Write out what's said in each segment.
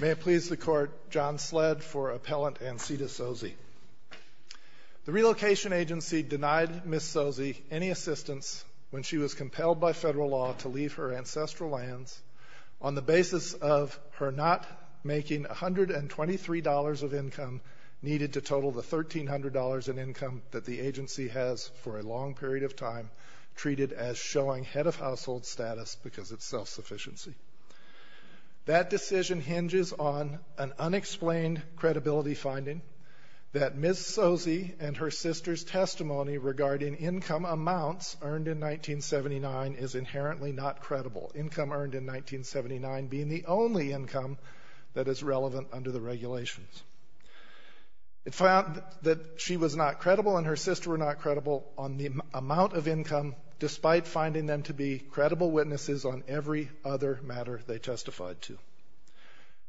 May it please the Court, John Sledd for Appellant Ancita Tsosie. The Relocation Agency denied Ms. Tsosie any assistance when she was compelled by federal law to leave her ancestral lands on the basis of her not making $123 of income needed to total the $1,300 in income that the agency has for a long period of time because it's self-sufficiency. That decision hinges on an unexplained credibility finding that Ms. Tsosie and her sister's testimony regarding income amounts earned in 1979 is inherently not credible, income earned in 1979 being the only income that is relevant under the regulations. It found that she was not credible and her sister were not credible on the amount of income, despite finding them to be biases on every other matter they testified to.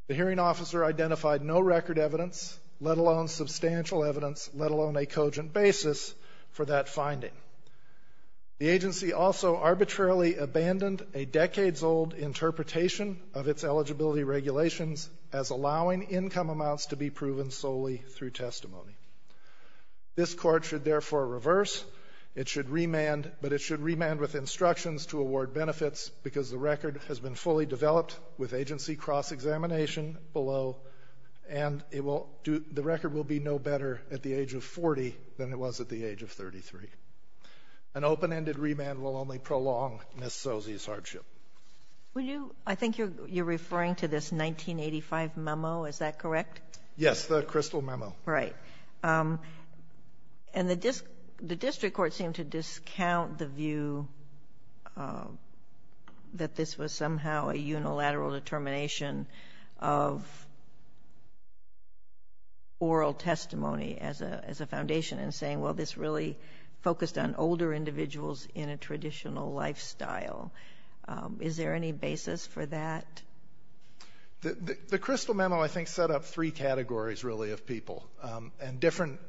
The hearing officer identified no record evidence, let alone substantial evidence, let alone a cogent basis for that finding. The agency also arbitrarily abandoned a decades-old interpretation of its eligibility regulations as allowing income amounts to be proven solely through testimony. This Court should therefore reverse. It should remand, but it should remand with instructions to award benefits because the record has been fully developed with agency cross-examination below, and it will do the record will be no better at the age of 40 than it was at the age of 33. An open-ended remand will only prolong Ms. Tsosie's hardship. Sotomayor, I think you're referring to this 1985 memo. Is that correct? Yes, the crystal memo. Right. And the district court seemed to discount the view that this was somehow a unilateral determination of oral testimony as a foundation in saying, well, this really focused on older individuals in a traditional lifestyle. Is there any basis for that? The crystal memo, I think, set up three categories, really, of people and different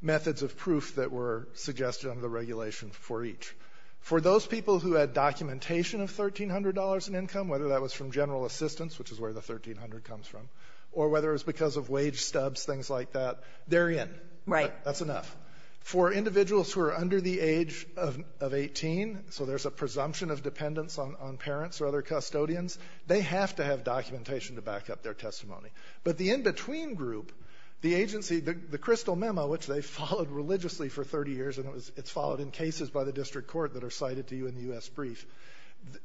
methods of proof that were suggested under the regulation for each. For those people who had documentation of $1,300 in income, whether that was from general assistance, which is where the 1,300 comes from, or whether it was because of wage stubs, things like that, they're in. Right. That's enough. For individuals who are under the age of 18, so there's a presumption of dependence on parents or other custodians, they have to have documentation to back up their testimony. But the in-between group, the agency, the crystal memo, which they've followed religiously for 30 years, and it's followed in cases by the district court that are cited to you in the U.S. brief,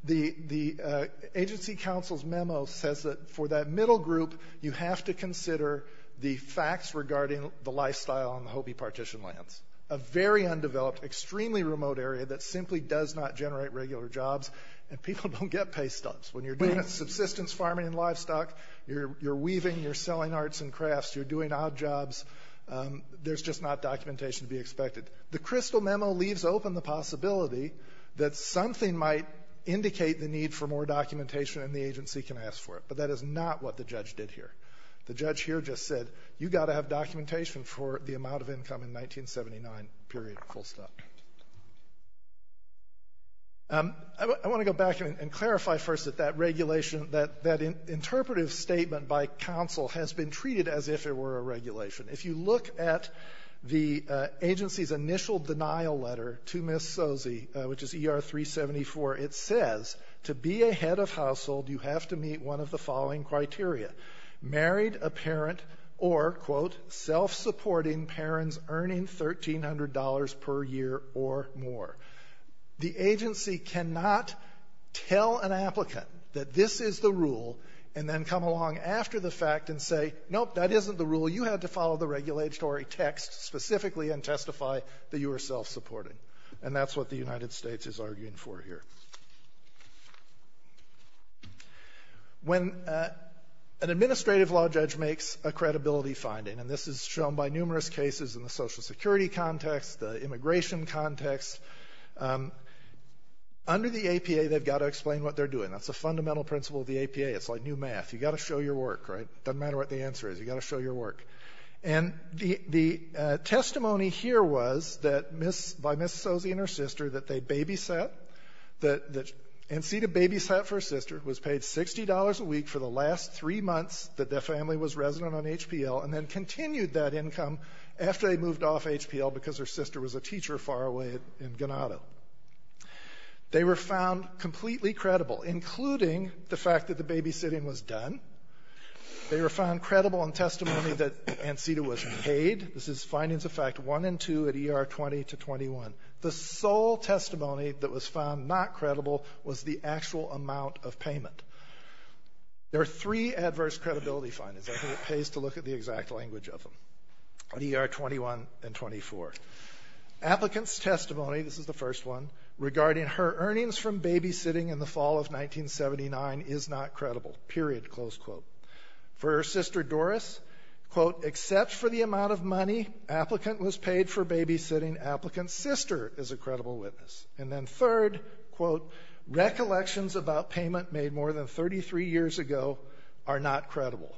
the agency counsel's memo says that for that middle group, you have to consider the facts regarding the lifestyle in the Hopi partition lands, a very undeveloped, extremely remote area that simply does not generate regular jobs, and people don't get pay stubs. When you're doing subsistence farming and livestock, you're weaving, you're selling arts and crafts, you're doing odd jobs, there's just not documentation to be expected. The crystal memo leaves open the possibility that something might indicate the need for more documentation and the agency can ask for it. But that is not what the judge did here. The judge here just said, you've got to have documentation for the amount of income in 1979, period, full stop. I want to go back and clarify first that that regulation that that interpretive statement by counsel has been treated as if it were a regulation. If you look at the agency's initial denial letter to Ms. Sozi, which is ER-374, it says, to be a head of household, you have to meet one of the following criteria. Married a parent or, quote, self-supporting parents earning $1,300 per year or more. The agency cannot tell an applicant that this is the rule and then come along after the fact and say, nope, that isn't the rule, you had to follow the regulatory text specifically and testify that you were self-supporting. And that's what the United States is arguing for here. When an administrative law judge makes a credibility finding, and this is shown by numerous cases in the Social Security context, the immigration context, under the APA, they've got to explain what they're doing. That's a fundamental principle of the APA. It's like new math. You've got to show your work, right? Doesn't matter what the answer is. You've got to show your work. And the testimony here was that by Ms. Sozi and her sister that they babysat, that Ancita babysat for her sister, was paid $60 a week for the last three months that their family was resident on HPL, and then continued that income after they moved off HPL because her sister was a teacher far away in Ganado. They were found completely credible, including the fact that the babysitting was done. They were found credible in testimony that Ancita was paid. This is findings of fact 1 and 2 at ER 20 to 21. The sole testimony that was found not credible was the actual amount of payment. There are three adverse credibility findings. I think it pays to look at the exact language of them on ER 21 and 24. Applicant's testimony, this is the first one, regarding her earnings from babysitting in the fall of 1979 is not credible, period, close quote. For her sister Doris, quote, except for the amount of money applicant was paid for babysitting, applicant's sister is a credible witness. And then third, quote, recollections about payment made more than 33 years ago are not credible.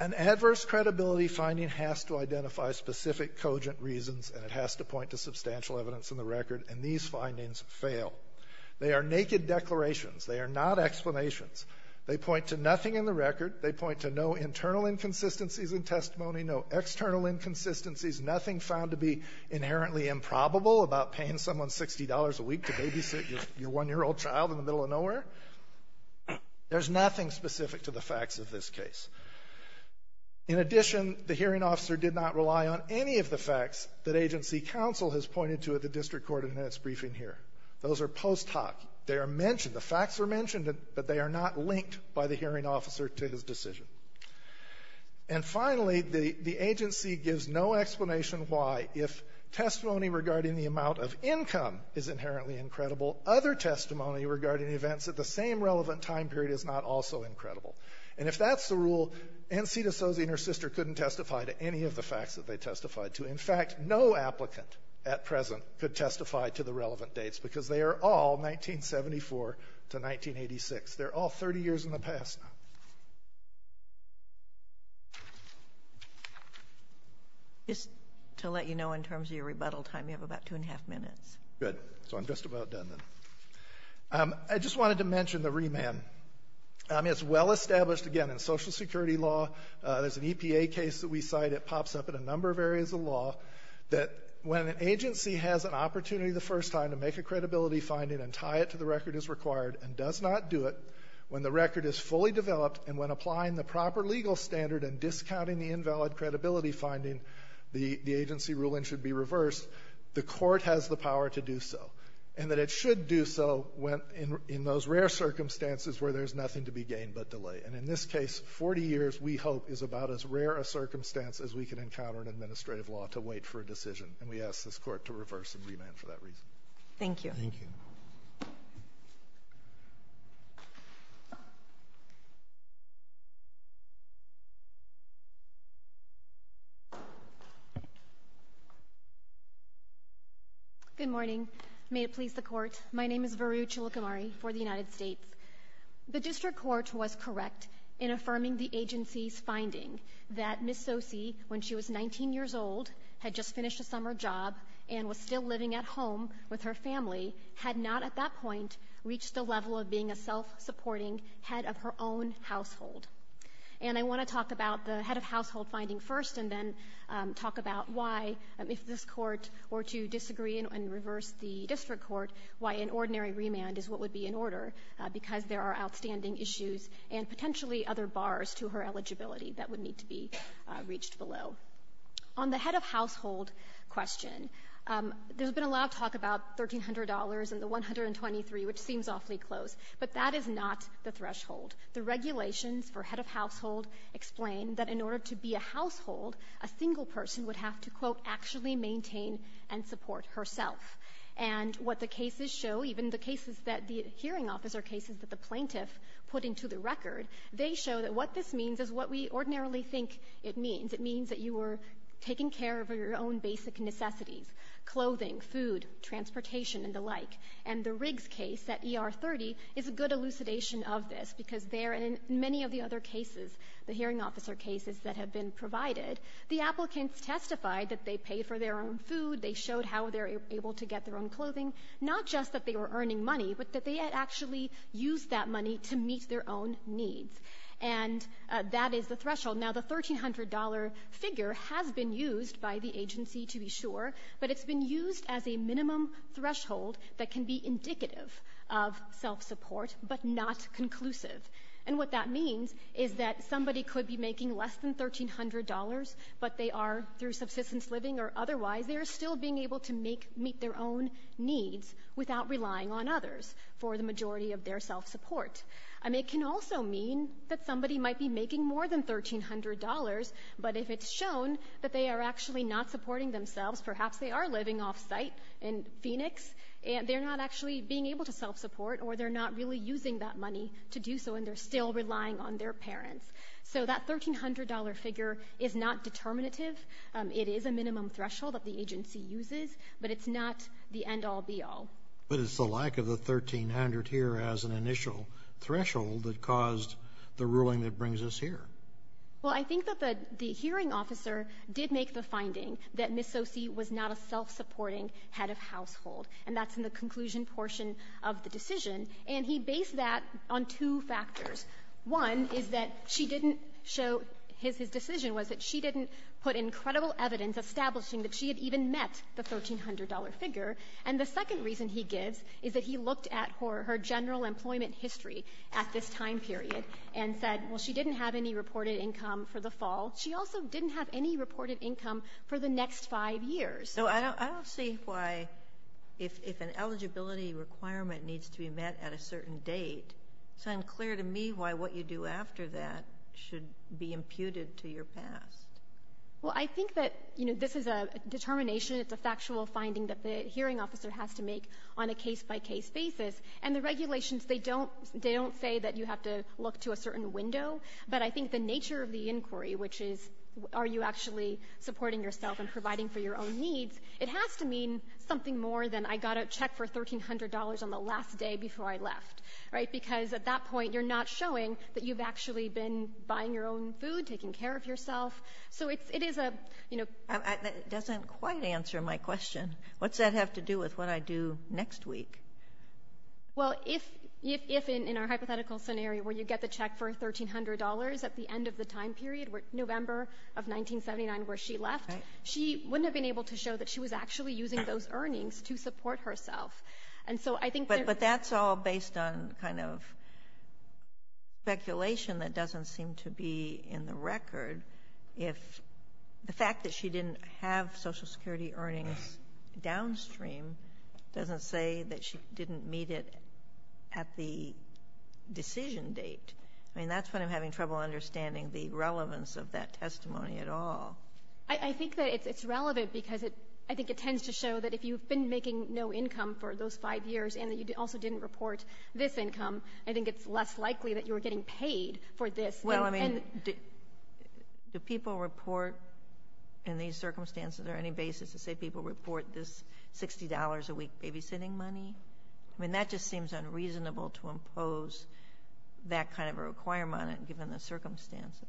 An adverse credibility finding has to identify specific cogent reasons, and it has to point to substantial evidence in the record, and these findings fail. They are naked declarations. They are not explanations. They point to nothing in the record. They point to no internal inconsistencies in testimony, no external inconsistencies, nothing found to be inherently improbable about paying someone $60 a week to babysit your one-year-old child in the middle of nowhere. There's nothing specific to the facts of this case. In addition, the hearing officer did not rely on any of the facts that agency counsel has pointed to at the district court in its briefing here. Those are post hoc. They are mentioned. The facts are mentioned, but they are not linked by the hearing officer to his decision. And finally, the agency gives no explanation why, if testimony regarding the amount of income is inherently incredible, other testimony regarding events at the same relevant time period is not also incredible. And if that's the rule, N. C. D'Souza and her sister couldn't testify to any of the facts that they testified to. In fact, no applicant at present could testify to the relevant dates, because they are all 1974 to 1986. They're all 30 years in the past now. Just to let you know, in terms of your rebuttal time, you have about two and a half minutes. Good. So I'm just about done, then. I just wanted to mention the remand. I mean, this is well-established, again, in Social Security law. There's an EPA case that we cite. It pops up in a number of areas of law, that when an agency has an opportunity the first time to make a credibility finding and tie it to the record as required and does not do it, when the record is fully developed and when applying the proper legal standard and discounting the invalid credibility finding, the agency ruling should be reversed, the court has the power to do so, and that it should do so when circumstances where there's nothing to be gained but delay. And in this case, 40 years, we hope, is about as rare a circumstance as we can encounter in administrative law to wait for a decision. And we ask this Court to reverse and remand for that reason. Thank you. Thank you. Good morning. May it please the Court, my name is Varu Cholukamari for the United States. The District Court was correct in affirming the agency's finding that Ms. Sosee, when she was 19 years old, had just finished a summer job and was still living at home with her family, had not at that point reached the level of being a self-supporting head of her own household. And I want to talk about the head of household finding first and then talk about why, if this Court were to disagree and reverse the District Court, why an ordinary remand is what would be in order, because there are outstanding issues and potentially other bars to her eligibility that would need to be reached below. On the head of household question, there's been a lot of talk about $1,300 and the $123, which seems awfully close, but that is not the threshold. The regulations for head of household explain that in order to be a household, a single person would have to, quote, actually maintain and support herself. And what the cases show, even the cases that the hearing officer cases that the plaintiff put into the record, they show that what this means is what we ordinarily think it means. It means that you were taking care of your own basic necessities, clothing, food, transportation, and the like. And the Riggs case at ER 30 is a good elucidation of this, because there, in many of the other cases, the hearing officer cases that have been provided, the applicants testified that they paid for their own food, they showed how they're able to get their own clothing, not just that they were earning money, but that they had actually used that money to meet their own needs. And that is the threshold. Now, the $1,300 figure has been used by the agency, to be sure, but it's been used as a minimum threshold that can be indicative of self-support, but not conclusive. And what that means is that somebody could be making less than $1,300, but they are, through subsistence living or otherwise, they are still being able to make meet their own needs without relying on others for the majority of their self-support. I mean, it can also mean that somebody might be making more than $1,300, but if it's shown that they are actually not supporting themselves, perhaps they are living off-site in Phoenix, and they're not actually being able to self-support, or they're not really using that money to do so, and they're still relying on their parents. So that $1,300 figure is not determinative. It is a minimum threshold that the agency uses, but it's not the end-all, be-all. But it's the lack of the $1,300 here as an initial threshold that caused the ruling that brings us here. Well, I think that the hearing officer did make the finding that Ms. Sosi was not a self-supporting head of household, and that's in the conclusion portion of the decision. And he based that on two factors. One is that she didn't show his decision was that she didn't put in credible evidence establishing that she had even met the $1,300 figure. And the second reason he gives is that he looked at her general employment history at this time period and said, well, she didn't have any reported income for the fall. She also didn't have any reported income for the next five years. So I don't see why, if an eligibility requirement needs to be met at a certain date, it's unclear to me why what you do after that should be imputed to your past. Well, I think that, you know, this is a determination. It's a factual finding that the hearing officer has to make on a case-by-case basis. And the regulations, they don't say that you have to look to a certain window. But I think the nature of the inquiry, which is are you actually supporting yourself and providing for your own needs, it has to mean something more than I got a check for $1,300 on the last day before I left, right? Because at that point, you're not showing that you've actually been buying your own food, taking care of yourself, so it is a, you know. It doesn't quite answer my question. What's that have to do with what I do next week? Well, if in our hypothetical scenario where you get the check for $1,300 at the end of the time period, November of 1979 where she left, she wouldn't have been able to show that she was actually using those earnings to support herself. But that's all based on kind of speculation that doesn't seem to be in the record. If the fact that she didn't have Social Security earnings downstream doesn't say that she didn't meet it at the decision date. I mean, that's when I'm having trouble understanding the relevance of that testimony at all. I think that it's relevant because I think it tends to show that if you've been making no income for those five years and that you also didn't report this income, I think it's less likely that you were getting paid for this. Well, I mean, do people report in these circumstances or any basis to say people report this $60 a week babysitting money? I mean, that just seems unreasonable to impose that kind of a requirement given the circumstances.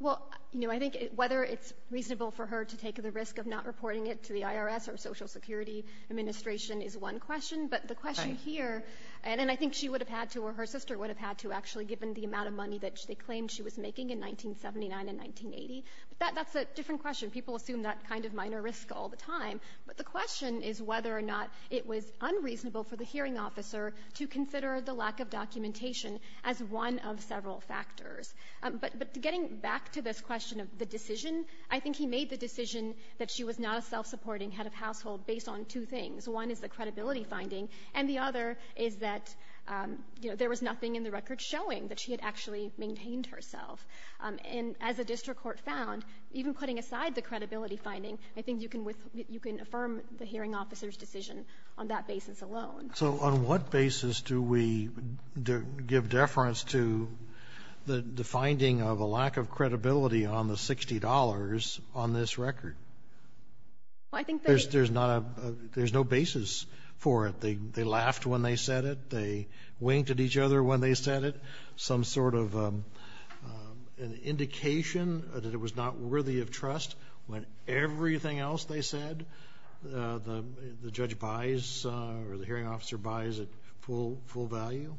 Well, you know, I think whether it's reasonable for her to take the risk of not reporting it to the IRS or Social Security Administration is one question. But the question here, and I think she would have had to or her sister would have had to actually given the amount of money that they claimed she was making in 1979 and 1980. But that's a different question. People assume that kind of minor risk all the time. But the question is whether or not it was unreasonable for the hearing officer to consider the lack of documentation as one of several factors. But getting back to this question of the decision, I think he made the decision that she was not a self-supporting head of household based on two things. One is the credibility finding, and the other is that, you know, there was nothing in the record showing that she had actually maintained herself. And as a district court found, even putting aside the credibility finding, I think you can affirm the hearing officer's decision on that basis alone. So on what basis do we give deference to the finding of a lack of credibility on the $60 on this record? There's no basis for it. They laughed when they said it. They winked at each other when they said it. Some sort of indication that it was not worthy of trust when everything else they the hearing officer buys at full value?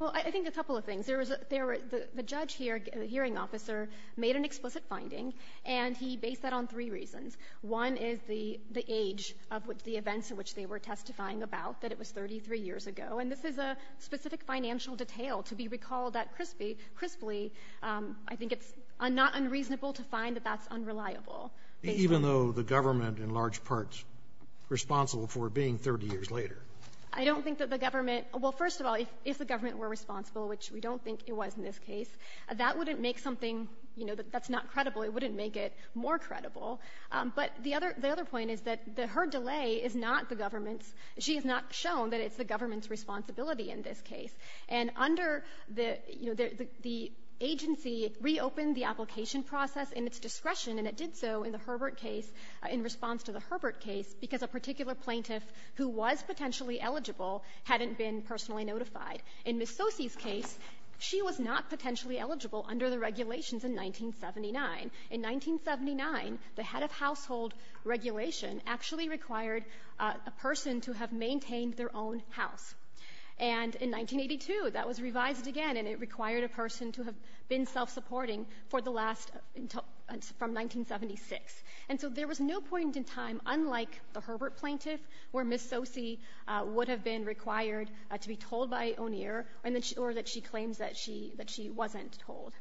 Well, I think a couple of things. The judge here, the hearing officer, made an explicit finding, and he based that on three reasons. One is the age of the events in which they were testifying about, that it was 33 years ago. And this is a specific financial detail to be recalled that crisply. I think it's not unreasonable to find that that's unreliable. Even though the government in large part is responsible for it being 30 years later? I don't think that the government – well, first of all, if the government were responsible, which we don't think it was in this case, that wouldn't make something that's not credible. It wouldn't make it more credible. But the other point is that her delay is not the government's. She has not shown that it's the government's responsibility in this case. And under the agency reopened the application process in its discretion, and it did so in the Herbert case, in response to the Herbert case, because a particular plaintiff who was potentially eligible hadn't been personally notified. In Ms. Sosey's case, she was not potentially eligible under the regulations in 1979. In 1979, the head of household regulation actually required a person to have maintained their own house. And in 1982, that was revised again, and it required a person to have been self-supporting for the last – from 1976. And so there was no point in time, unlike the Herbert plaintiff, where Ms. Sosey would have been required to be told by O'Neill, or that she claims that she wasn't told.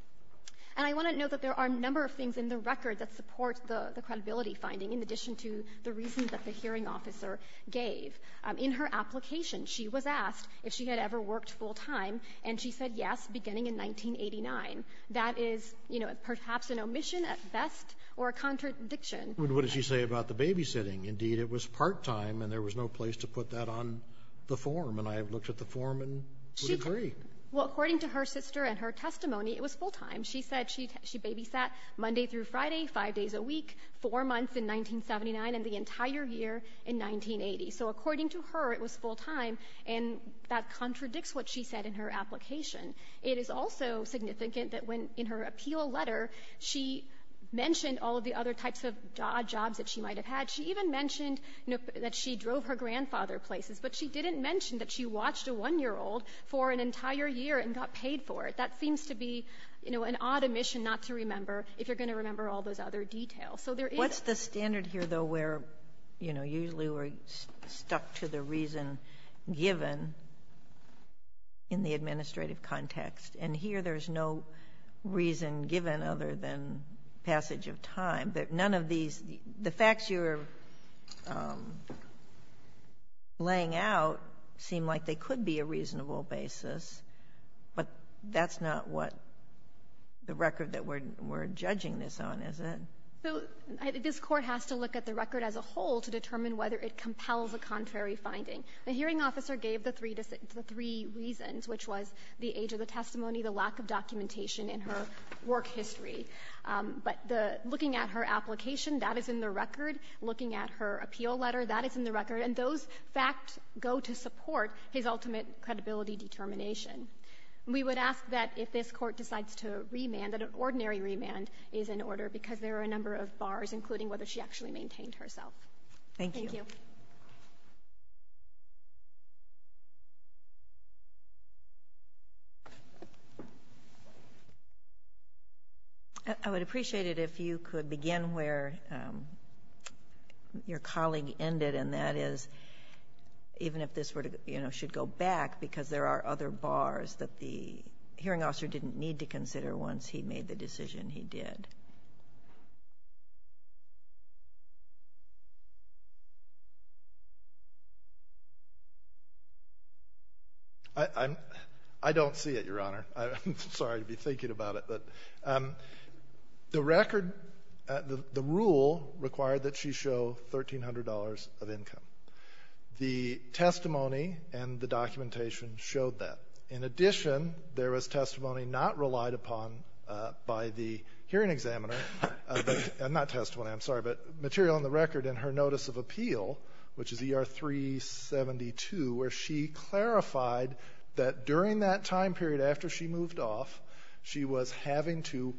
And I want to note that there are a number of things in the record that support the credibility finding, in addition to the reasons that the hearing officer gave. In her application, she was asked if she had ever worked full-time, and she said yes beginning in 1989. That is, you know, perhaps an omission at best or a contradiction. Roberts. But what did she say about the babysitting? Indeed, it was part-time, and there was no place to put that on the form. And I looked at the form and would agree. Well, according to her sister and her testimony, it was full-time. She said she babysat Monday through Friday, five days a week, four months in 1979, and the entire year in 1980. So according to her, it was full-time, and that contradicts what she said in her application. It is also significant that when, in her appeal letter, she mentioned all of the other types of jobs that she might have had. She even mentioned that she drove her grandfather places, but she didn't mention that she watched a 1-year-old for an entire year and got paid for it. That seems to be, you know, an odd omission not to remember if you're going to remember all those other details. So there is the standard here, though, where, you know, usually we're stuck to the reason given in the administrative context. And here there's no reason given other than passage of time. But none of these the facts you're laying out seem like they could be a reasonable basis, but that's not what the record that we're judging this on, is it? So this Court has to look at the record as a whole to determine whether it compels a contrary finding. The hearing officer gave the three reasons, which was the age of the testimony, the lack of documentation in her work history. But the looking at her application, that is in the record. Looking at her appeal letter, that is in the record. And those facts go to support his ultimate credibility determination. And we would ask that if this Court decides to remand, that an ordinary remand is in order, because there are a number of bars, including whether she actually maintained herself. Thank you. I would appreciate it if you could begin where your colleague ended, and that is even go back, because there are other bars that the hearing officer didn't need to consider once he made the decision he did. I don't see it, Your Honor. I'm sorry to be thinking about it. But the record, the rule required that she show $1,300 of income. The testimony and the documentation showed that. In addition, there was testimony not relied upon by the hearing examiner, not testimony, I'm sorry, but material on the record in her notice of appeal, which is ER 372, where she clarified that during that time period after she moved off, she was having to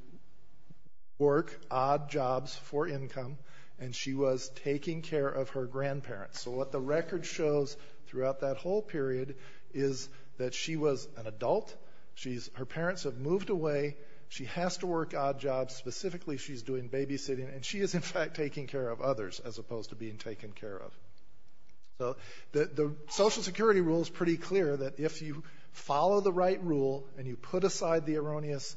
work odd jobs for $1,300. So what the record shows throughout that whole period is that she was an adult. Her parents have moved away. She has to work odd jobs. Specifically, she's doing babysitting. And she is, in fact, taking care of others, as opposed to being taken care of. So the Social Security rule is pretty clear, that if you follow the right rule and you put aside the erroneous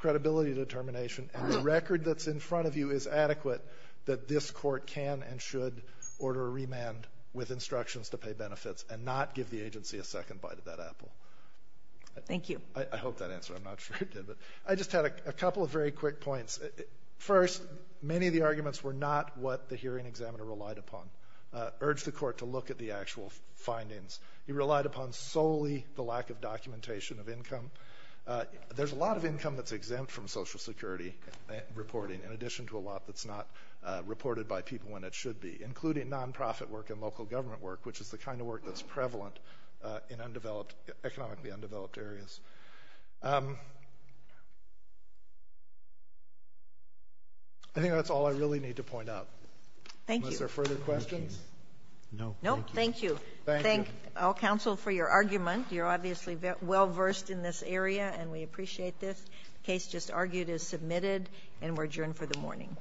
credibility determination, and the record that's in front of you is adequate, that this Court can and should order a remand with instructions to pay benefits and not give the agency a second bite of that apple. Thank you. I hope that answered. I'm not sure it did. But I just had a couple of very quick points. First, many of the arguments were not what the hearing examiner relied upon. Urged the Court to look at the actual findings. He relied upon solely the lack of documentation of income. There's a lot of income that's exempt from Social Security reporting, in addition to a lot that's not reported by people when it should be, including nonprofit work and local government work, which is the kind of work that's prevalent in economically undeveloped areas. I think that's all I really need to point out. Thank you. Unless there are further questions? No. Thank you. Thank all counsel for your argument. You're obviously well-versed in this area, and we appreciate this. The case just argued is submitted, and we're adjourned for the morning.